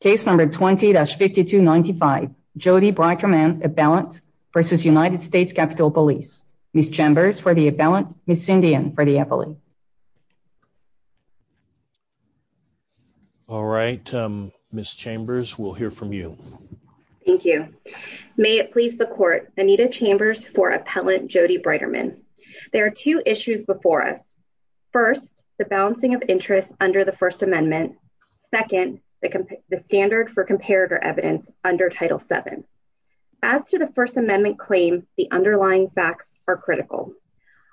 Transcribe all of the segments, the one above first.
Case number 20-5295 Jodi Breiterman appellant versus United States Capitol Police. Ms. Chambers for the appellant, Ms. Sindian for the affiliate. All right, Ms. Chambers, we'll hear from you. Thank you. May it please the court, Anita Chambers for appellant Jodi Breiterman. There are two issues before us. First, the balancing of interests under the First Amendment. Second, the standard for comparator evidence under Title VII. As to the First Amendment claim, the underlying facts are critical.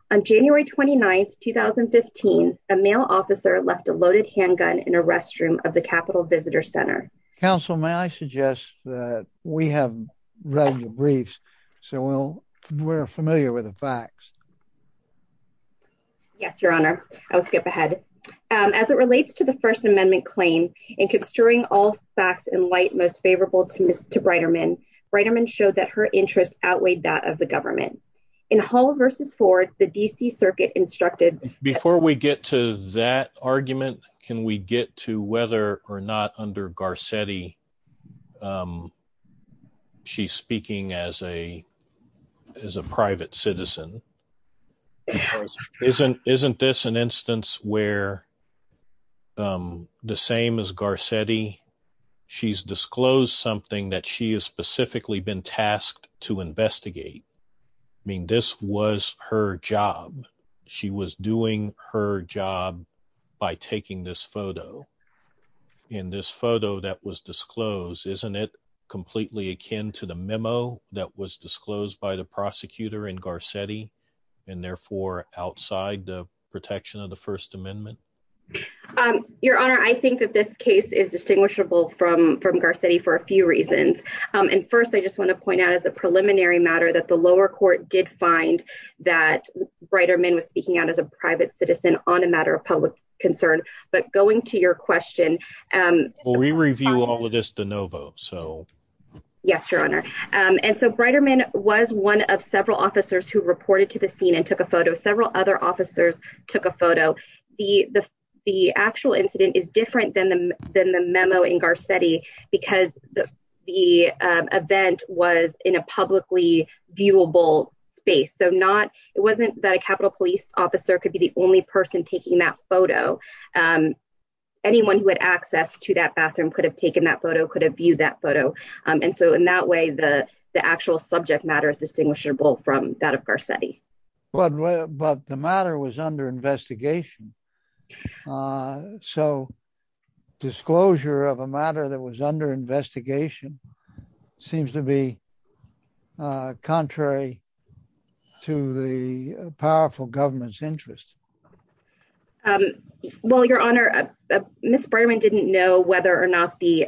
On January 29, 2015, a male officer left a loaded handgun in a restroom of the Capitol Visitor Center. Counsel, may I suggest that we have read the briefs so we're familiar with the facts? Yes, Your Honor. I will skip ahead. As it relates to the First Amendment claim, in construing all facts in light most favorable to Mr. Breiterman, Breiterman showed that her interest outweighed that of the government. In Hull v. Ford, the D.C. Circuit instructed- Before we get to that argument, can we get to whether or not under Garcetti, she's speaking as a private citizen. Isn't this an instance where, the same as Garcetti, she's disclosed something that she has specifically been tasked to investigate? I mean, this was her job. She was doing her job by taking this photo. In this photo that was disclosed, isn't it completely akin to the memo that was disclosed by the prosecutor in Garcetti and therefore outside the protection of the First Amendment? Your Honor, I think that this case is distinguishable from Garcetti for a few reasons. First, I just want to point out as a preliminary matter that the lower court did find that Breiterman was speaking out as a private citizen on a matter of public concern. But going to your question- Will we review all of this de novo? Yes, Your Honor. Breiterman was one of several officers who reported to the scene and took a photo. Several other officers took a photo. The actual incident is different than the memo in Garcetti because the event was in a publicly viewable space. It wasn't that a Capitol Police officer could be the only person taking that photo. Anyone who had access to that bathroom could have taken that photo, could have viewed that photo. And so in that way, the actual subject matter is distinguishable from that of Garcetti. But the matter was under investigation. So disclosure of a matter that was under investigation seems to be contrary to the powerful government's interest. Well, Your Honor, Ms. Breiterman didn't know whether or not the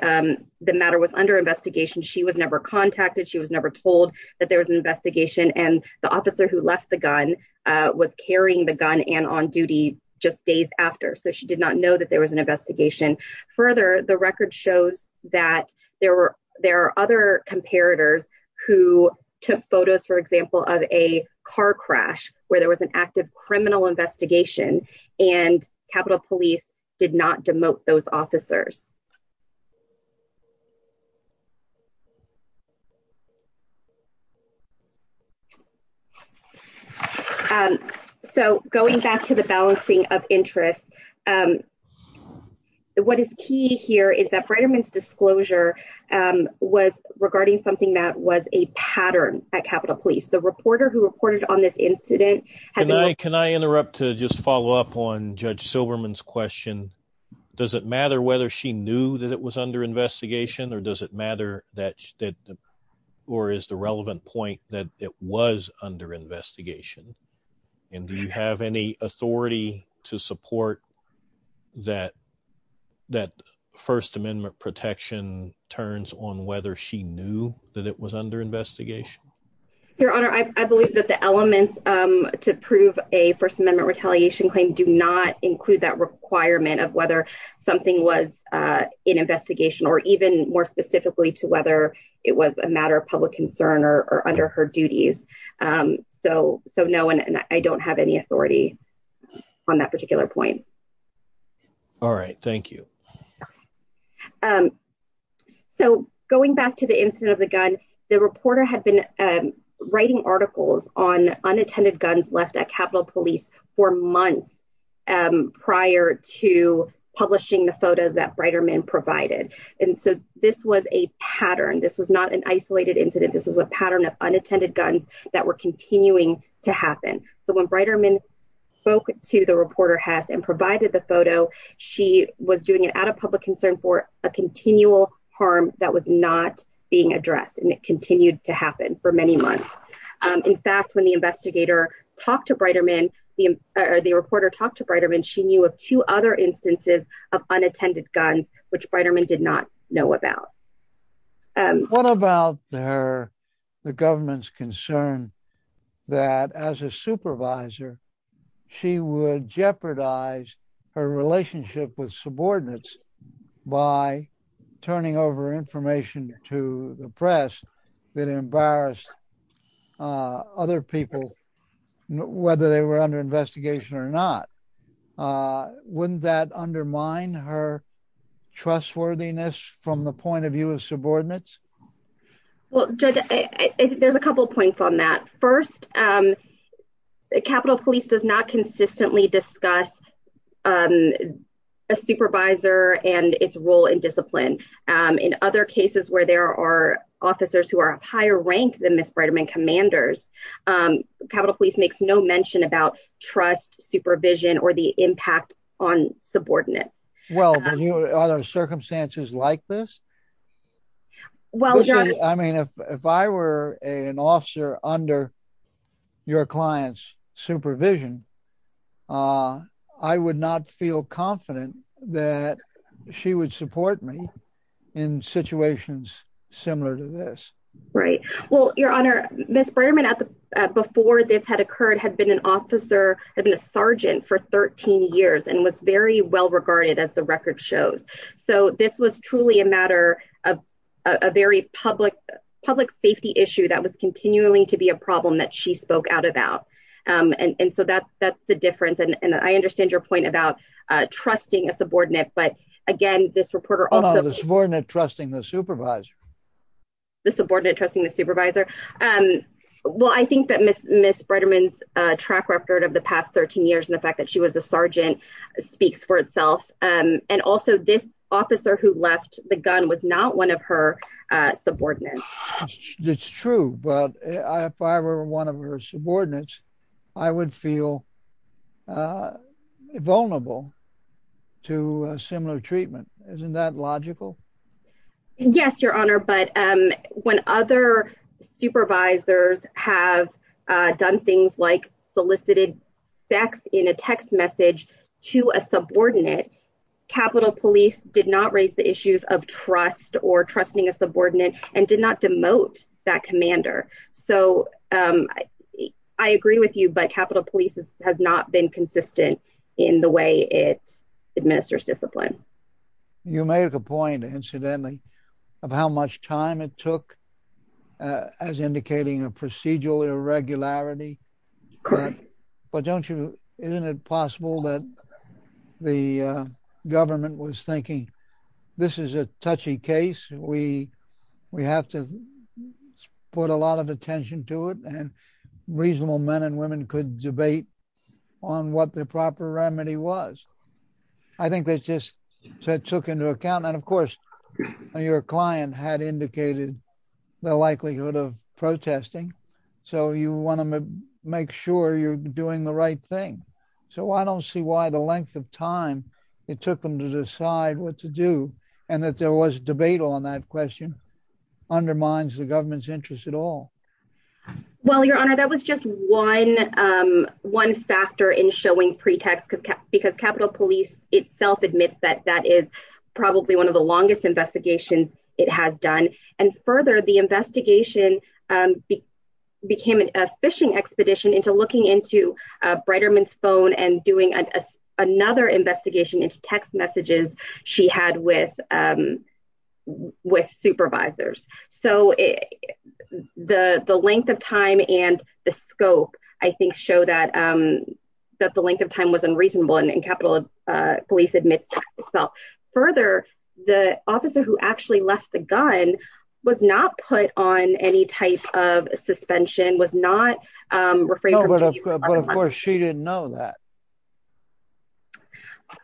matter was under investigation. She was never contacted. She was never told that there was an investigation. And the officer who left the gun was carrying the gun and on duty just days after. So she did not know that there was an investigation. Further, the record shows that there are other comparators who took photos, for example, of a car crash where there was an active criminal investigation and Capitol Police did not demote those officers. So going back to the balancing of interests, what is key here is that Breiterman's disclosure was regarding something that was a pattern at Capitol Police. The reporter who reported on this incident... Can I interrupt to just follow up on Judge Silberman's question? Does it matter whether she knew that it was under investigation or does it matter that or is the relevant point that it was under investigation? And do you have any authority to support that First Amendment protection turns on whether she knew that it was under investigation? Your Honor, I believe that the elements to prove a First Amendment retaliation claim do not include that requirement of whether something was in investigation or even more specifically to whether it was a matter of public concern or under her duties. So no, I don't have any authority. On that particular point. All right. Thank you. So going back to the incident of the gun, the reporter had been writing articles on unattended guns left at Capitol Police for months prior to publishing the photo that Breiterman provided. And so this was a pattern. This was not an isolated incident. This was a pattern of unattended guns that were continuing to happen. So when Breiterman spoke to the reporter Hess and provided the photo, she was doing it out of public concern for a continual harm that was not being addressed. And it continued to happen for many months. In fact, when the investigator talked to Breiterman, the reporter talked to Breiterman, she knew of two other instances of unattended guns, which Breiterman did not know about. What about her, the government's concern that as a supervisor, she would jeopardize her relationship with subordinates by turning over information to the press that embarrassed other people, whether they were under investigation or not. Wouldn't that undermine her trustworthiness from the point of view of subordinates? Well, Judge, there's a couple of points on that. First, Capitol Police does not consistently discuss a supervisor and its role in discipline. In other cases where there are officers who are of higher rank than Ms. Breiterman commanders, Capitol Police makes no mention about trust supervision or the impact on subordinates. Well, are there circumstances like this? I mean, if I were an officer under your client's supervision, I would not feel confident that she would support me in situations similar to this. Right. Well, Your Honor, Ms. Breiterman, before this had occurred, had been an officer, had been a sergeant for 13 years and was very well regarded as the record shows. So this was truly a matter of a very public safety issue that was continuing to be a problem that she spoke out about. And so that's the difference. And I understand your point about trusting a subordinate, but again, this reporter also... The subordinate trusting the supervisor. The subordinate trusting the supervisor. Well, I think that Ms. Breiterman's track record of the past 13 years and the fact that she was a sergeant speaks for itself. And also this officer who left the gun was not one of her subordinates. It's true. But if I were one of her subordinates, I would feel vulnerable to similar treatment. Isn't that logical? Yes, Your Honor. But when other supervisors have done things like solicited sex in a text message to a subordinate, Capitol Police did not raise the issues of trust or trusting a subordinate and did not demote that commander. So I agree with you, but Capitol Police has not been consistent in the way it administers discipline. You make a point, incidentally, of how much time it took as indicating a procedural irregularity. Correct. But don't you... Isn't it possible that the government was thinking, this is a touchy case. We have to put a lot of attention to it and reasonable men and women could debate on what the proper remedy was. I think that just took into account. And of course, your client had indicated the likelihood of protesting. So you want to make sure you're doing the right thing. So I don't see why the length of time it took them to decide what to do and that there was debate on that question undermines the government's interest at all. Well, Your Honor, that was just one factor in showing pretext because Capitol Police itself admits that that is probably one of the longest investigations it has done. And into looking into Breiterman's phone and doing another investigation into text messages she had with supervisors. So the length of time and the scope, I think, show that the length of time was unreasonable and Capitol Police admits that itself. Further, the officer who actually left the gun was not put on any type of suspension, was not... But of course, she didn't know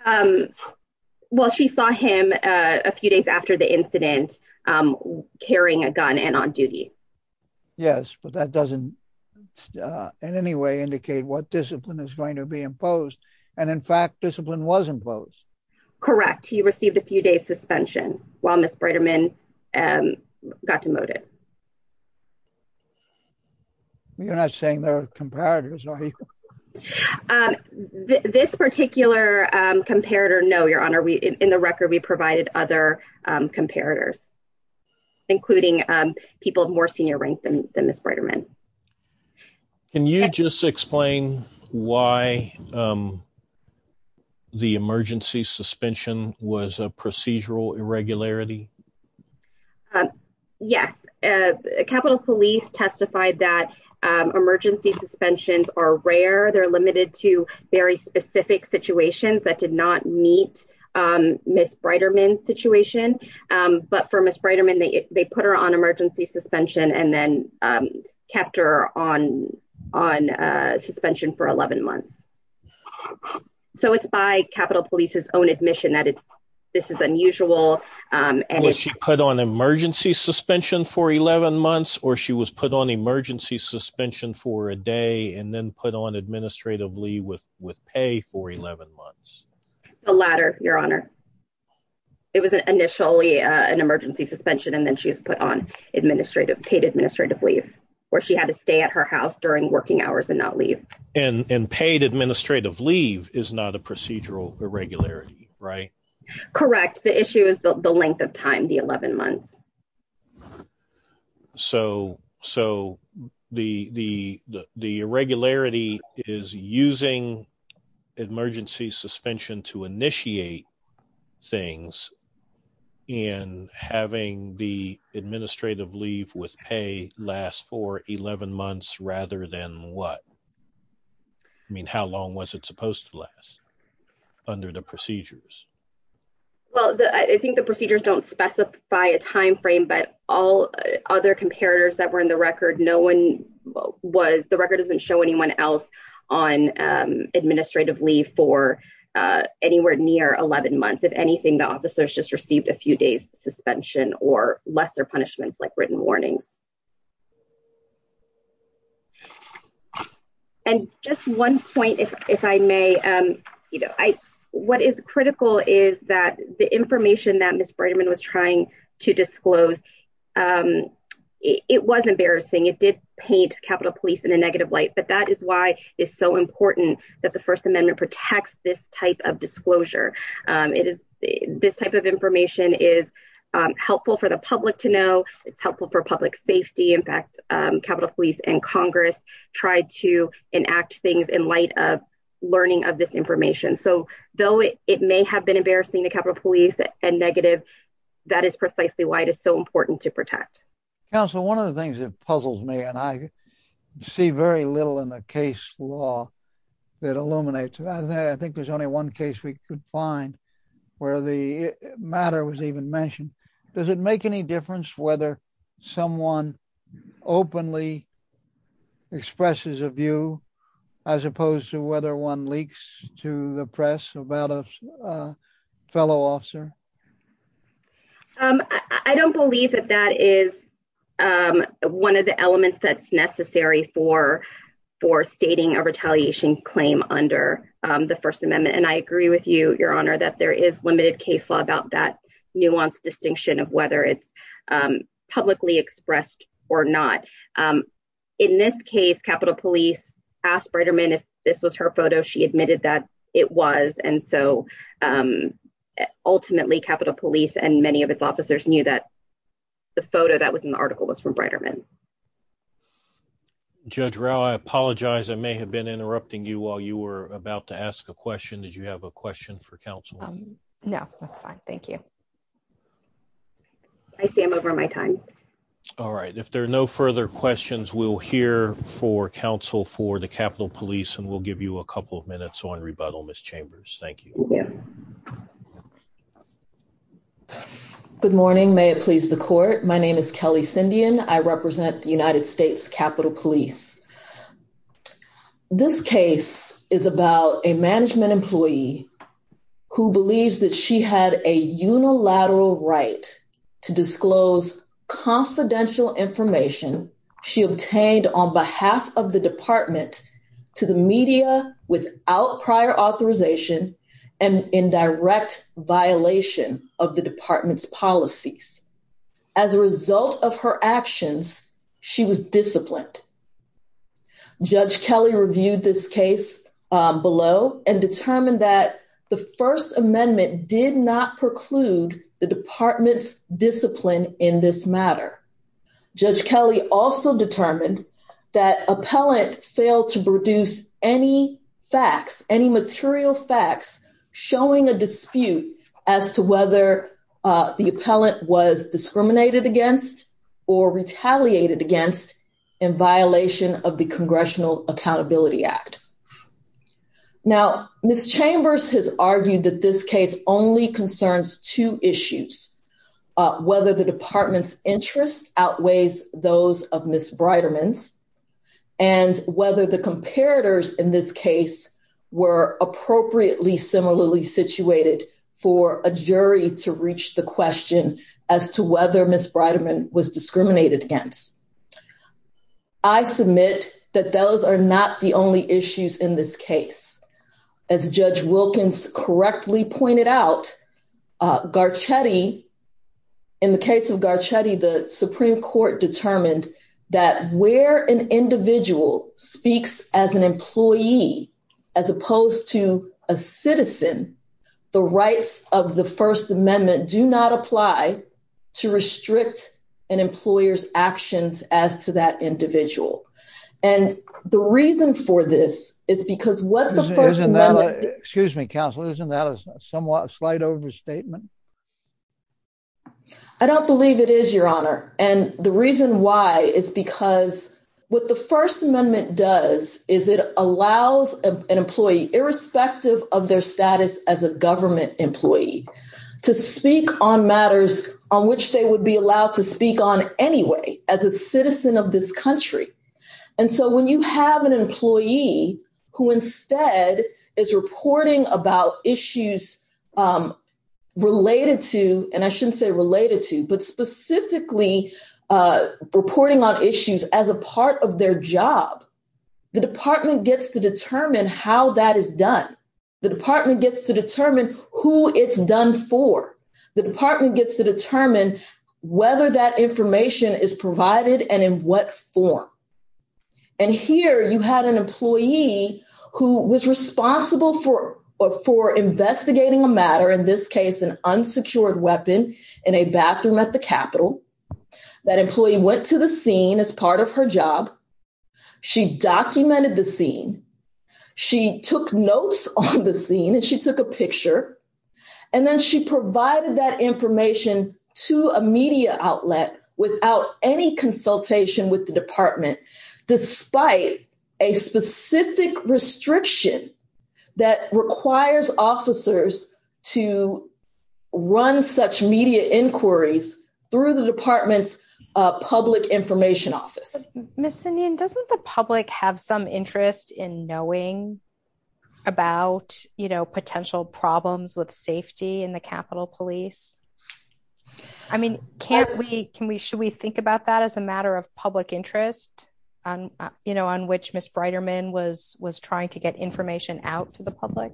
that. Well, she saw him a few days after the incident carrying a gun and on duty. Yes, but that doesn't in any way indicate what discipline is going to be imposed. And in fact, discipline was imposed. Correct. He received a few days suspension while Miss Breiterman got demoted. You're not saying there are comparators, are you? This particular comparator, no, Your Honor. In the record, we provided other comparators, including people of more senior rank than Miss Breiterman. Can you just explain why the emergency suspension was a procedural irregularity? Yes. Capitol Police testified that emergency suspensions are rare. They're limited to very specific situations that did not meet Miss Breiterman's situation. But for Miss Breiterman, they put her on emergency suspension and then kept her on suspension for 11 months. So it's by Capitol Police's own admission that this is unusual. Was she put on emergency suspension for 11 months or she was put on emergency suspension for a day and then put on administrative leave with pay for 11 months? The latter, Your Honor. It was initially an emergency suspension and then she was put on paid administrative leave where she had to stay at her house during working hours and not leave. And paid administrative leave is not a procedural irregularity, right? Correct. The issue is the length of time, the 11 months. Correct. So the irregularity is using emergency suspension to initiate things and having the administrative leave with pay last for 11 months rather than what? I mean, how long was it supposed to last under the procedures? Well, I think the procedures don't specify a time frame, but all other comparators that were in the record, the record doesn't show anyone else on administrative leave for anywhere near 11 months. If anything, the officers just received a few days suspension or lesser punishments like written warnings. And just one point, if I may, what is critical is that the information that Ms. Breitman was trying to disclose, it was embarrassing. It did paint Capitol Police in a negative light, but that is why it's so important that the First Amendment protects this type of disclosure. This type of information is helpful for the public to know. It's helpful for public safety. It's helpful for in fact, Capitol Police and Congress tried to enact things in light of learning of this information. So though it may have been embarrassing to Capitol Police and negative, that is precisely why it is so important to protect. Counselor, one of the things that puzzles me and I see very little in the case law that illuminates. I think there's only one case we could find where the matter was even mentioned. Does it make any difference whether someone openly expresses a view as opposed to whether one leaks to the press about a fellow officer? I don't believe that that is one of the elements that's necessary for stating a retaliation claim under the First Amendment. And I agree with you, that there is limited case law about that nuanced distinction of whether it's publicly expressed or not. In this case, Capitol Police asked Breiterman if this was her photo, she admitted that it was. And so ultimately Capitol Police and many of its officers knew that the photo that was in the article was from Breiterman. Judge Rao, I apologize. I may have been interrupting you while you were about to question. Did you have a question for counsel? No, that's fine. Thank you. I see I'm over my time. All right. If there are no further questions, we'll hear for counsel for the Capitol Police and we'll give you a couple of minutes on rebuttal, Ms. Chambers. Thank you. Good morning. May it please the court. My name is Kelly Sindian. I represent the United States Capitol Police. This case is about a management employee who believes that she had a unilateral right to disclose confidential information she obtained on behalf of the department to the media without prior authorization and in direct violation of the department's policies. As a result of her actions, she was disciplined. Judge Kelly reviewed this case below and determined that the first amendment did not preclude the department's discipline in this matter. Judge Kelly also determined that appellant failed to produce any facts, any material facts showing a dispute as to whether the appellant was discriminated against or retaliated against in violation of the Congressional Accountability Act. Now, Ms. Chambers has argued that this case only concerns two issues, whether the department's interest outweighs those of Ms. Breiderman's and whether the comparators in this case were appropriately similarly situated for a jury to reach the question as to whether Ms. Breiderman was discriminated against. I submit that those are not the only issues in this case. As Judge Wilkins correctly pointed out, in the case of Garcetti, the Supreme Court determined that where an individual speaks as an employee as opposed to a citizen, the rights of the first amendment do not apply to restrict an employer's actions as to that individual. And the reason for this is because what the first amendment... Excuse me, counsel. Isn't that a somewhat slight overstatement? I don't believe it is, Your Honor. And the reason why is because what the first amendment does is it allows an employee, irrespective of their status as a on which they would be allowed to speak on anyway, as a citizen of this country. And so when you have an employee who instead is reporting about issues related to, and I shouldn't say related to, but specifically reporting on issues as a part of their job, the department gets to determine how that is done. The department gets to determine who it's done for. The department gets to determine whether that information is provided and in what form. And here you had an employee who was responsible for investigating a matter, in this case, an unsecured weapon in a bathroom at the Capitol. That employee went to the scene as part of her job. She documented the scene. She took notes on the scene and she took a picture. And then she provided that information to a media outlet without any consultation with the department, despite a specific restriction that requires officers to run such media inquiries through the department's public information office. Miss Cindy, doesn't the public have some interest in knowing about potential problems with safety in the Capitol Police? I mean, should we think about that as a matter of public interest, on which Miss Breiderman was trying to get information out to the public?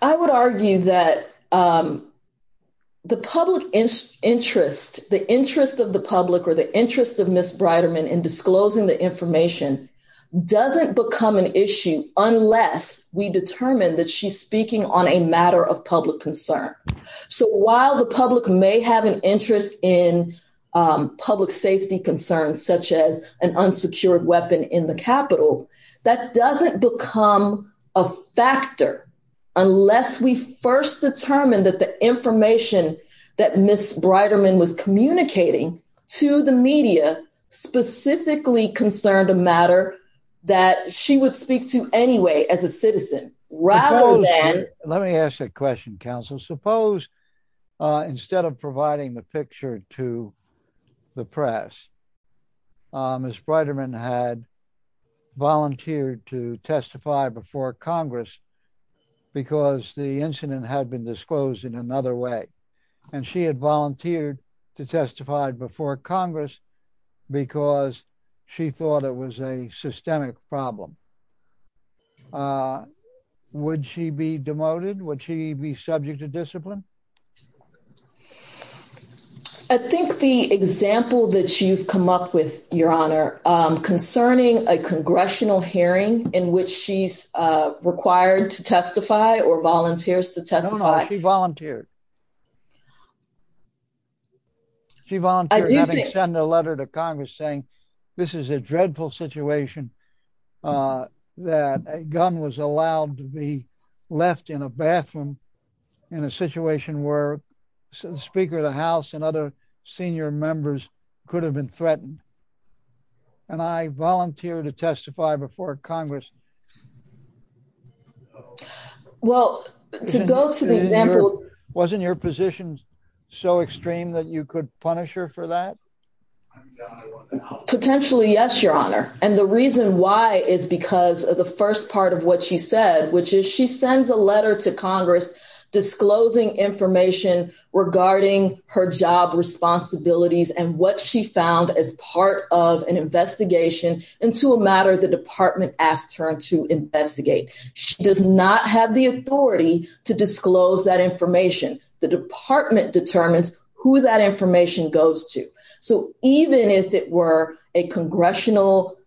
I would argue that the public interest, the interest of the public or the interest of Miss Breiderman in disclosing the information doesn't become an issue unless we determine that she's speaking on a matter of public concern. So while the public may have an interest in public safety concerns, such as an unsecured weapon in the Capitol, that doesn't become a factor unless we first determine that the information that Miss Breiderman was communicating to the media specifically concerned a matter that she would speak to anyway as a citizen. Let me ask a question, counsel. Suppose instead of providing the picture to the press, Miss Breiderman had volunteered to testify before Congress because the incident had been disclosed in another way, and she had volunteered to testify before Congress because she thought it was a systemic problem. Would she be demoted? Would she be subject to discipline? I think the example that you've come up with, Your Honor, concerning a congressional hearing in which she's required to testify or volunteers to testify. No, no, she volunteered. She volunteered to send a letter to Congress saying this is a dreadful situation that a gun was allowed to be left in a bathroom in a situation where the Speaker of the House and other senior members could have been threatened. And I volunteered to testify before Congress. Well, to go to the example... Wasn't your position so extreme that you could punish her for that? Potentially, yes, Your Honor. And the reason why is because of the first part of what she said, she sends a letter to Congress disclosing information regarding her job responsibilities and what she found as part of an investigation into a matter the department asked her to investigate. She does not have the authority to disclose that information. The department determines who that information goes to. So even if it were a congressional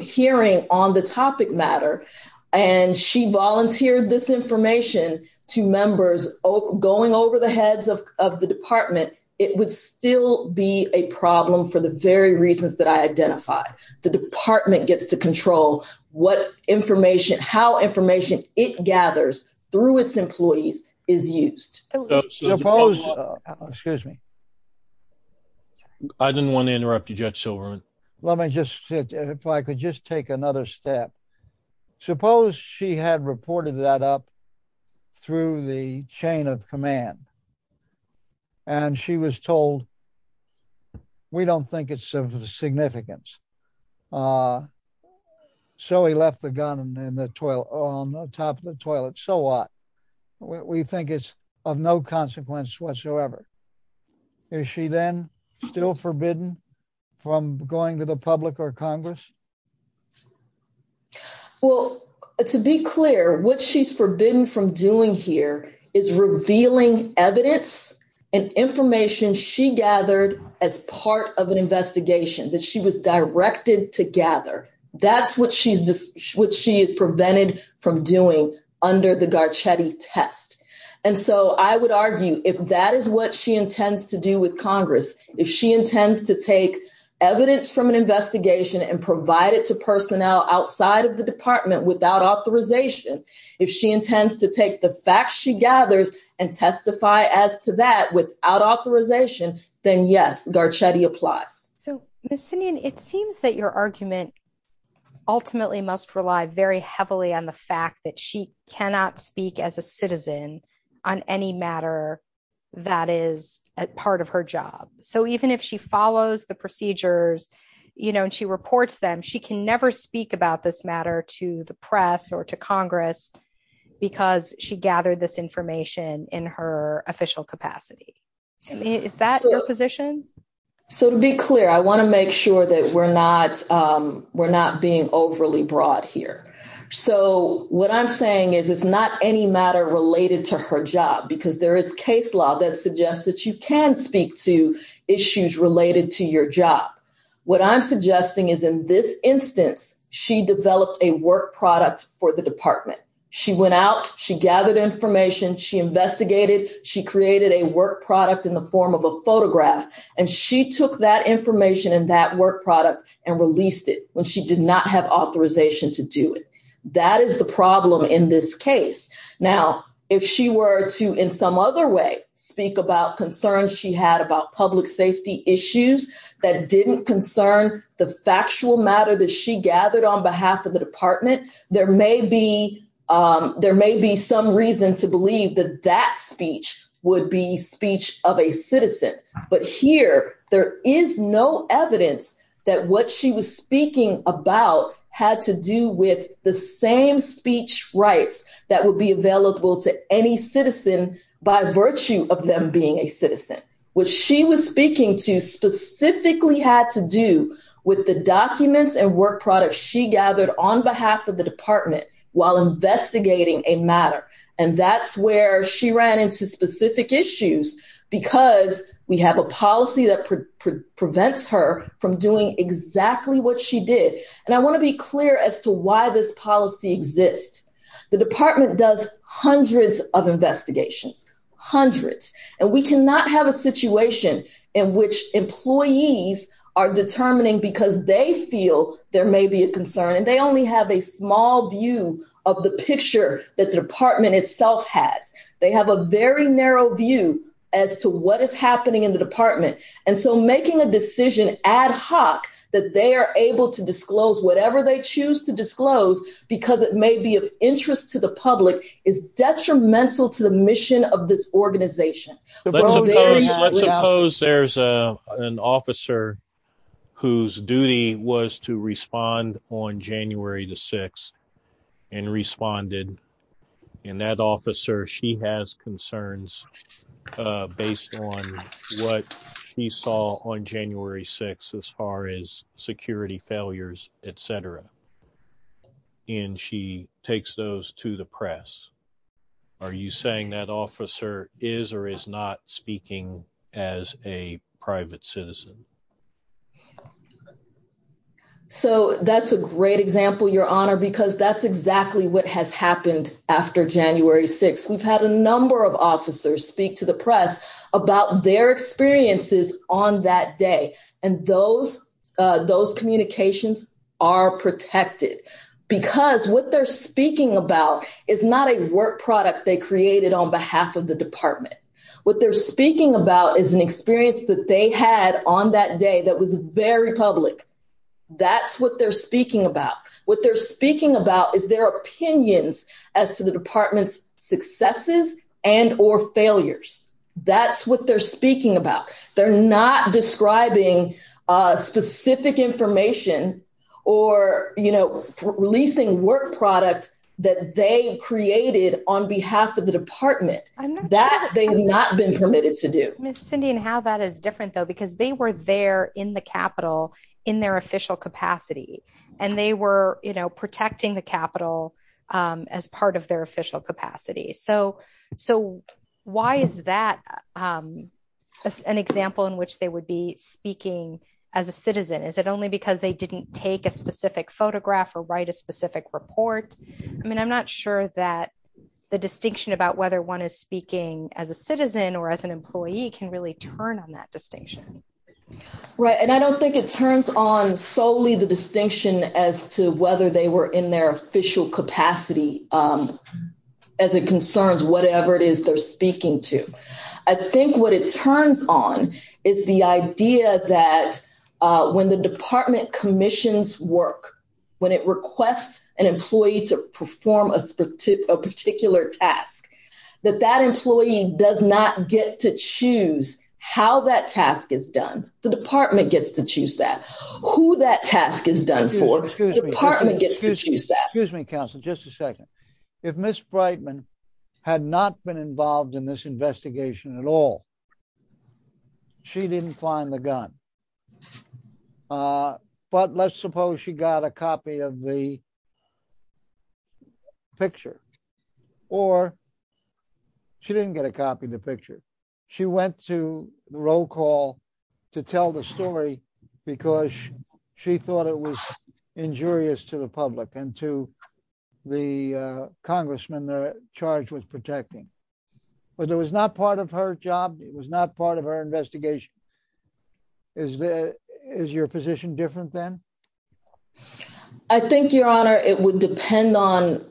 hearing on the topic matter and she volunteered this information to members going over the heads of the department, it would still be a problem for the very reasons that I identify. The department gets to control how information it gathers through its employees is used. Excuse me. I didn't want to interrupt you, Judge Silverman. Let me just see if I could just take another step. Suppose she had reported that up through the chain of command and she was told, we don't think it's of significance. So he left the gun on the top of the toilet. So what? We think it's of no consequence whatsoever. Is she then still forbidden from going to the public or Congress? Well, to be clear, what she's forbidden from doing here is revealing evidence and information she gathered as part of an investigation that she was directed to gather. That's what she's prevented from doing under the Garcetti test. And so I would argue if that is what she intends to do with Congress, if she intends to take evidence from an investigation and provide it to personnel outside of the department without authorization, if she intends to take the facts she gathers and testify as to that without authorization, then yes, Garcetti applies. So Ms. Sinian, it seems that your argument ultimately must rely very heavily on the fact that she cannot speak as a citizen on any matter that is a part of her job. So even if she follows the procedures, you know, and she reports them, she can never speak about this matter to the press or to Congress because she gathered this information in her official capacity. Is that your position? So to be clear, I want to make sure that we're not being overly broad here. So what I'm saying is it's not any matter related to her job because there is case law that suggests that you can speak to issues related to your job. What I'm suggesting is in this instance, she developed a work product for the department. She went out, she gathered information, she investigated, she created a work graph, and she took that information and that work product and released it when she did not have authorization to do it. That is the problem in this case. Now, if she were to, in some other way, speak about concerns she had about public safety issues that didn't concern the factual matter that she gathered on behalf of the department, there may be some reason to believe that that speech would be speech of a citizen. But here, there is no evidence that what she was speaking about had to do with the same speech rights that would be available to any citizen by virtue of them being a citizen. What she was speaking to specifically had to do with the documents and work products she gathered on behalf of the department while investigating a matter. And that's where she ran into specific issues because we have a policy that prevents her from doing exactly what she did. And I want to be clear as to why this policy exists. The department does hundreds of investigations, hundreds, and we cannot have a situation in which employees are determining because they feel there may be a concern and they only have a view of what the department itself has. They have a very narrow view as to what is happening in the department. And so making a decision ad hoc that they are able to disclose whatever they choose to disclose because it may be of interest to the public is detrimental to the mission of this organization. Let's suppose there's an officer whose duty was to respond on January the 6th and responded. And that officer, she has concerns based on what she saw on January 6th as far as security failures, etc. And she takes those to the press. Are you saying that officer is or is not speaking as a private citizen? So that's a great example, Your Honor, because that's exactly what has happened after January 6th. We've had a number of officers speak to the press about their experiences on that day. And those those communications are protected because what they're speaking about is not a work product they created on behalf of the department. What they're speaking about is an experience that they had on that day that was very public. That's what they're speaking about. What they're speaking about is their opinions as to the department's successes and or failures. That's what they're speaking about. They're not describing specific information or, you know, releasing work product that they created on behalf of the department. That they've not been permitted to do. Cindy, and how that is different, though, because they were there in the Capitol in their official capacity. And they were, you know, protecting the Capitol as part of their official capacity. So why is that an example in which they would be speaking as a citizen? Is it only because they didn't take a specific photograph or write a specific report? I mean, I'm not sure that the distinction about whether one is speaking as a citizen or as an employee can really turn on that distinction. Right. And I don't think it turns on solely the distinction as to whether they were in their official capacity as it concerns whatever it is they're speaking to. I think what it turns on is the idea that when the department commissions work, when it requests an employee to a particular task, that that employee does not get to choose how that task is done. The department gets to choose that. Who that task is done for, the department gets to choose that. Excuse me, counsel, just a second. If Ms. Brightman had not been involved in this investigation at all, she didn't find the gun. But let's suppose she got a copy of the picture or she didn't get a copy of the picture. She went to the roll call to tell the story because she thought it was injurious to the public and to the congressman they're charged with protecting. But it was not part of her job. It was not part of her investigation. Is your position different then? I think, your honor, it would depend on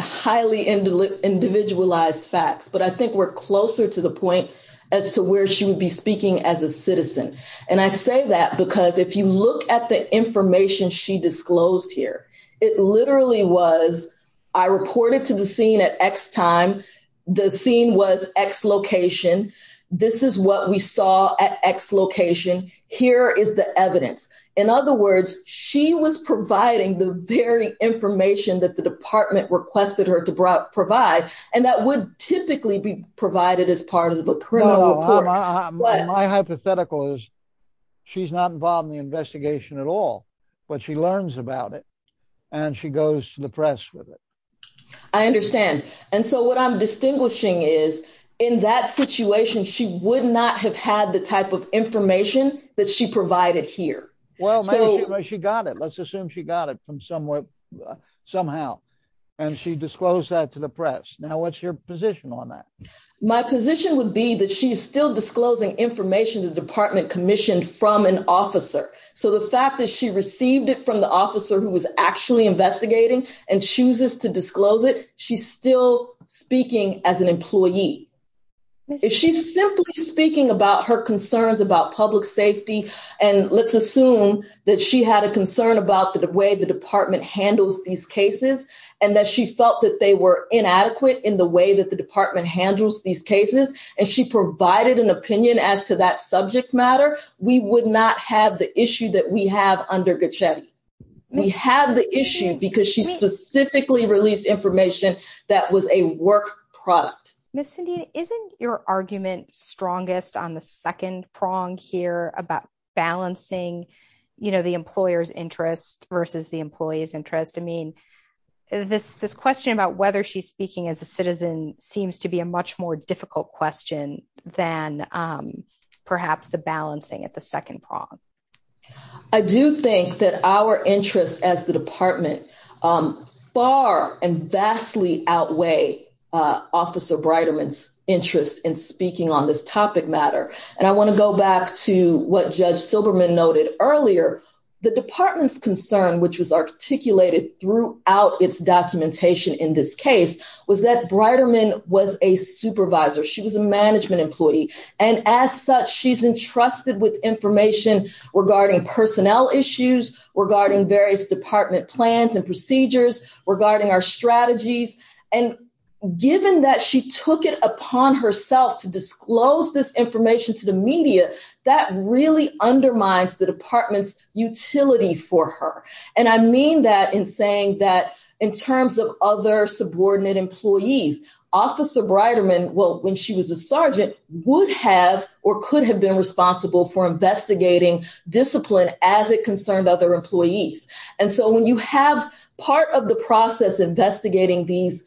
highly individualized facts. But I think we're closer to the point as to where she would be speaking as a citizen. And I say that because if you look at the information she disclosed here, it literally was, I reported to the scene at X time. The scene was X location. This is what we saw at X location. Here is the evidence. In other words, she was providing the very information that the department requested her to provide. And that would typically be provided as part of a criminal report. My hypothetical is she's not involved in the investigation at all, but she learns about it and she goes to the press with it. I understand. And so what I'm asking is, does she have the type of information that she provided here? Well, she got it. Let's assume she got it from somewhere, somehow. And she disclosed that to the press. Now, what's your position on that? My position would be that she's still disclosing information the department commissioned from an officer. So the fact that she received it from the officer who was actually investigating and chooses to disclose it, she's still speaking as an employee. If she's simply speaking about her concerns about public safety, and let's assume that she had a concern about the way the department handles these cases, and that she felt that they were inadequate in the way that the department handles these cases, and she provided an opinion as to that subject matter, we would not have the issue that we have under Gochetti. We have the issue because she specifically released information that was a work product. Ms. Cindy, isn't your argument strongest on the second prong here about balancing, you know, the employer's interest versus the employee's interest? I mean, this question about whether she's speaking as a citizen seems to be a much more difficult question than perhaps the balancing at the second prong. I do think that our interests as the department far and vastly outweigh Officer Breiterman's interest in speaking on this topic matter. And I want to go back to what Judge Silberman noted earlier. The department's concern, which was articulated throughout its documentation in this case, was that Breiterman was a supervisor. She was a information regarding personnel issues, regarding various department plans and procedures, regarding our strategies. And given that she took it upon herself to disclose this information to the media, that really undermines the department's utility for her. And I mean that in saying that in terms of other subordinate employees, Officer Breiterman, well, when she was a sergeant, would have or could have been responsible for investigating discipline as it concerned other employees. And so when you have part of the process investigating these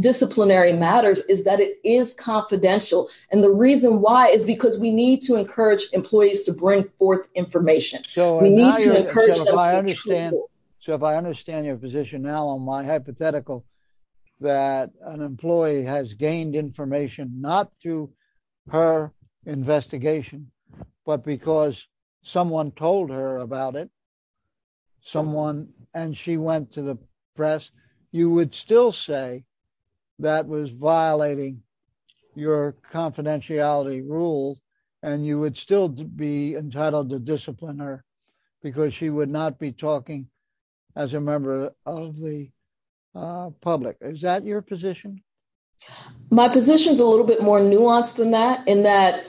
disciplinary matters is that it is confidential. And the reason why is because we need to encourage employees to bring forth information. We need to encourage them to be truthful. So if I understand your position now on my hypothetical, that an employee has gained information, not through her investigation, but because someone told her about it, someone, and she went to the press, you would still say that was violating your confidentiality rules. And you would still be entitled to discipline her because she would not be talking as a member of the public. Is that your position? My position is a little bit more nuanced than that, in that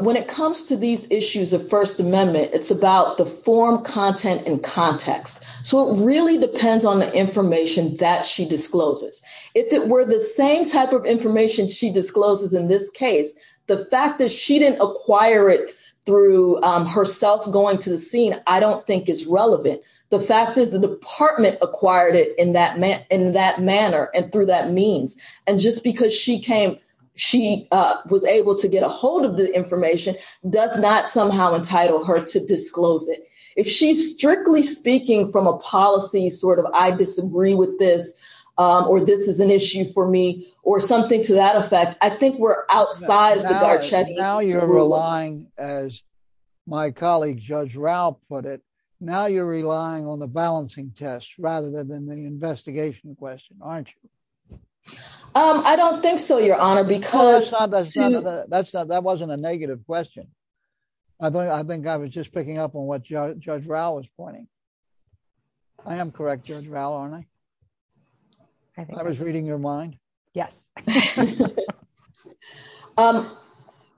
when it comes to these issues of First Amendment, it's about the form, content, and context. So it really depends on the information that she discloses. If it were the same type of information she discloses in this case, the fact that she didn't acquire it through herself going to the scene, I don't think is relevant. The fact is the department acquired it in that manner and through that means. And just because she came, she was able to get a hold of the information, does not somehow entitle her to disclose it. If she's strictly speaking from a policy sort of, I disagree with this, or this is an issue for me, or something to that effect, I think we're outside of the Garcetti rule. Now you're relying, as my colleague Judge Rao put it, now you're relying on the balancing test rather than the investigation question, aren't you? I don't think so, Your Honor, because... That wasn't a negative question. I think I was just picking up on what Judge Rao was pointing. I am correct, Judge Rao, aren't I? I was reading your mind. Yes.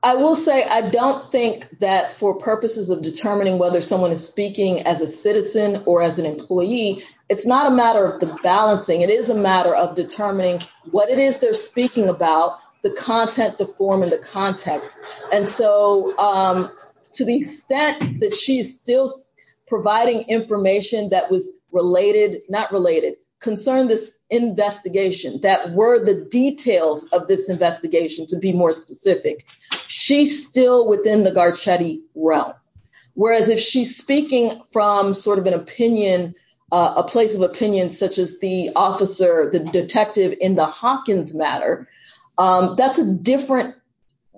I will say I don't think that for purposes of determining whether someone is speaking as a citizen or as an employee, it's not a matter of the balancing. It is a matter of determining what it is they're speaking about, the content, the form, and the context. And so to the extent that she's still providing information that was related, not related, concern this investigation, that were the details of this investigation, to be more specific, she's still within the Garcetti realm. Whereas if she's speaking from sort of an opinion, a place of opinion such as the officer, the detective in the Hawkins matter, that's a different,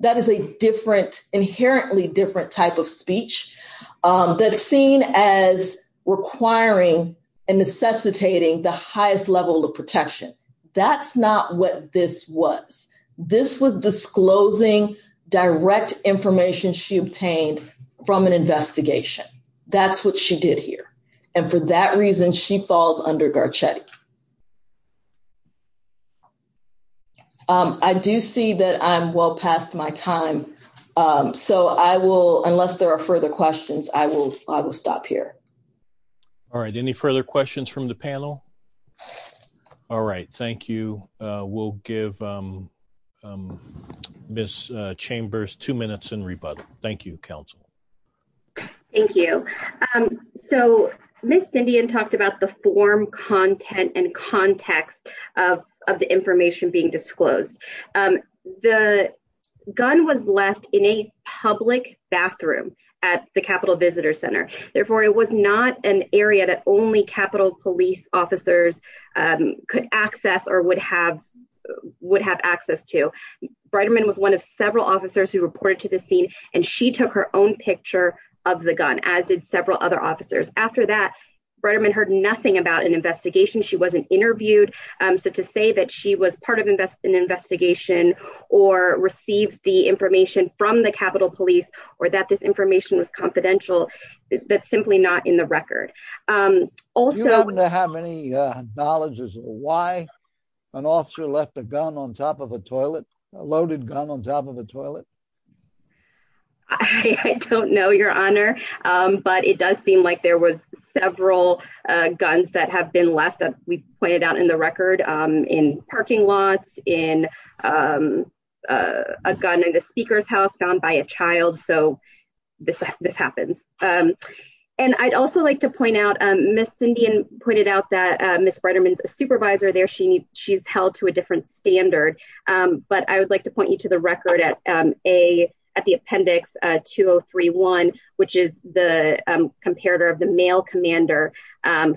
that is a different, inherently different type of speech that's seen as requiring and necessitating the highest level of protection. That's not what this was. This was disclosing direct information she obtained from an investigation. That's what she did here. And for that reason, she falls under Garcetti. I do see that I'm well past my time. So I will, unless there are further questions, I will stop here. All right. Any further questions from the panel? All right. Thank you. We'll give Ms. Chambers two minutes in rebuttal. Thank you, counsel. Thank you. So Ms. Cindy talked about the form content and context of the information being disclosed. The gun was left in a public bathroom at the Capitol Visitor Center. Therefore it was not an area that only Capitol police officers could access or would have access to. Breiterman was one of several officers who reported to the scene and she took her own picture of the gun, as did several other officers. After that, Breiterman heard nothing about an investigation. She wasn't interviewed. So to say that she was part of an investigation or received the information from the Capitol police or that this information was confidential, that's simply not in the record. Also- On top of a toilet? I don't know, Your Honor, but it does seem like there was several guns that have been left, as we pointed out in the record, in parking lots, in a gun in the speaker's house found by a child. So this happens. And I'd also like to point out, Ms. Cindy pointed out that Ms. Breiterman's a supervisor there. She's held to a different standard. But I would like to point you to the record at the appendix 2031, which is the comparator of the male commander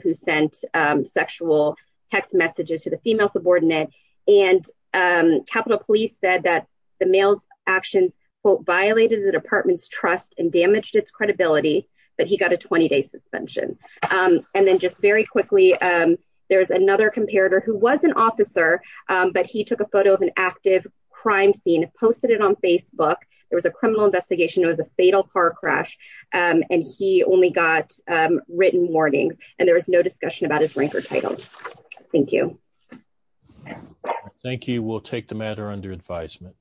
who sent sexual text messages to the female subordinate. And Capitol police said that the male's actions, quote, violated the department's trust and damaged its credibility, but he got a 20-day suspension. And then just very quickly, there's another comparator who was an officer, but he took a photo of an active crime scene, posted it on Facebook. There was a criminal investigation. It was a fatal car crash, and he only got written warnings. And there was no discussion about his rank or title. Thank you. Thank you. We'll take the matter under advisement.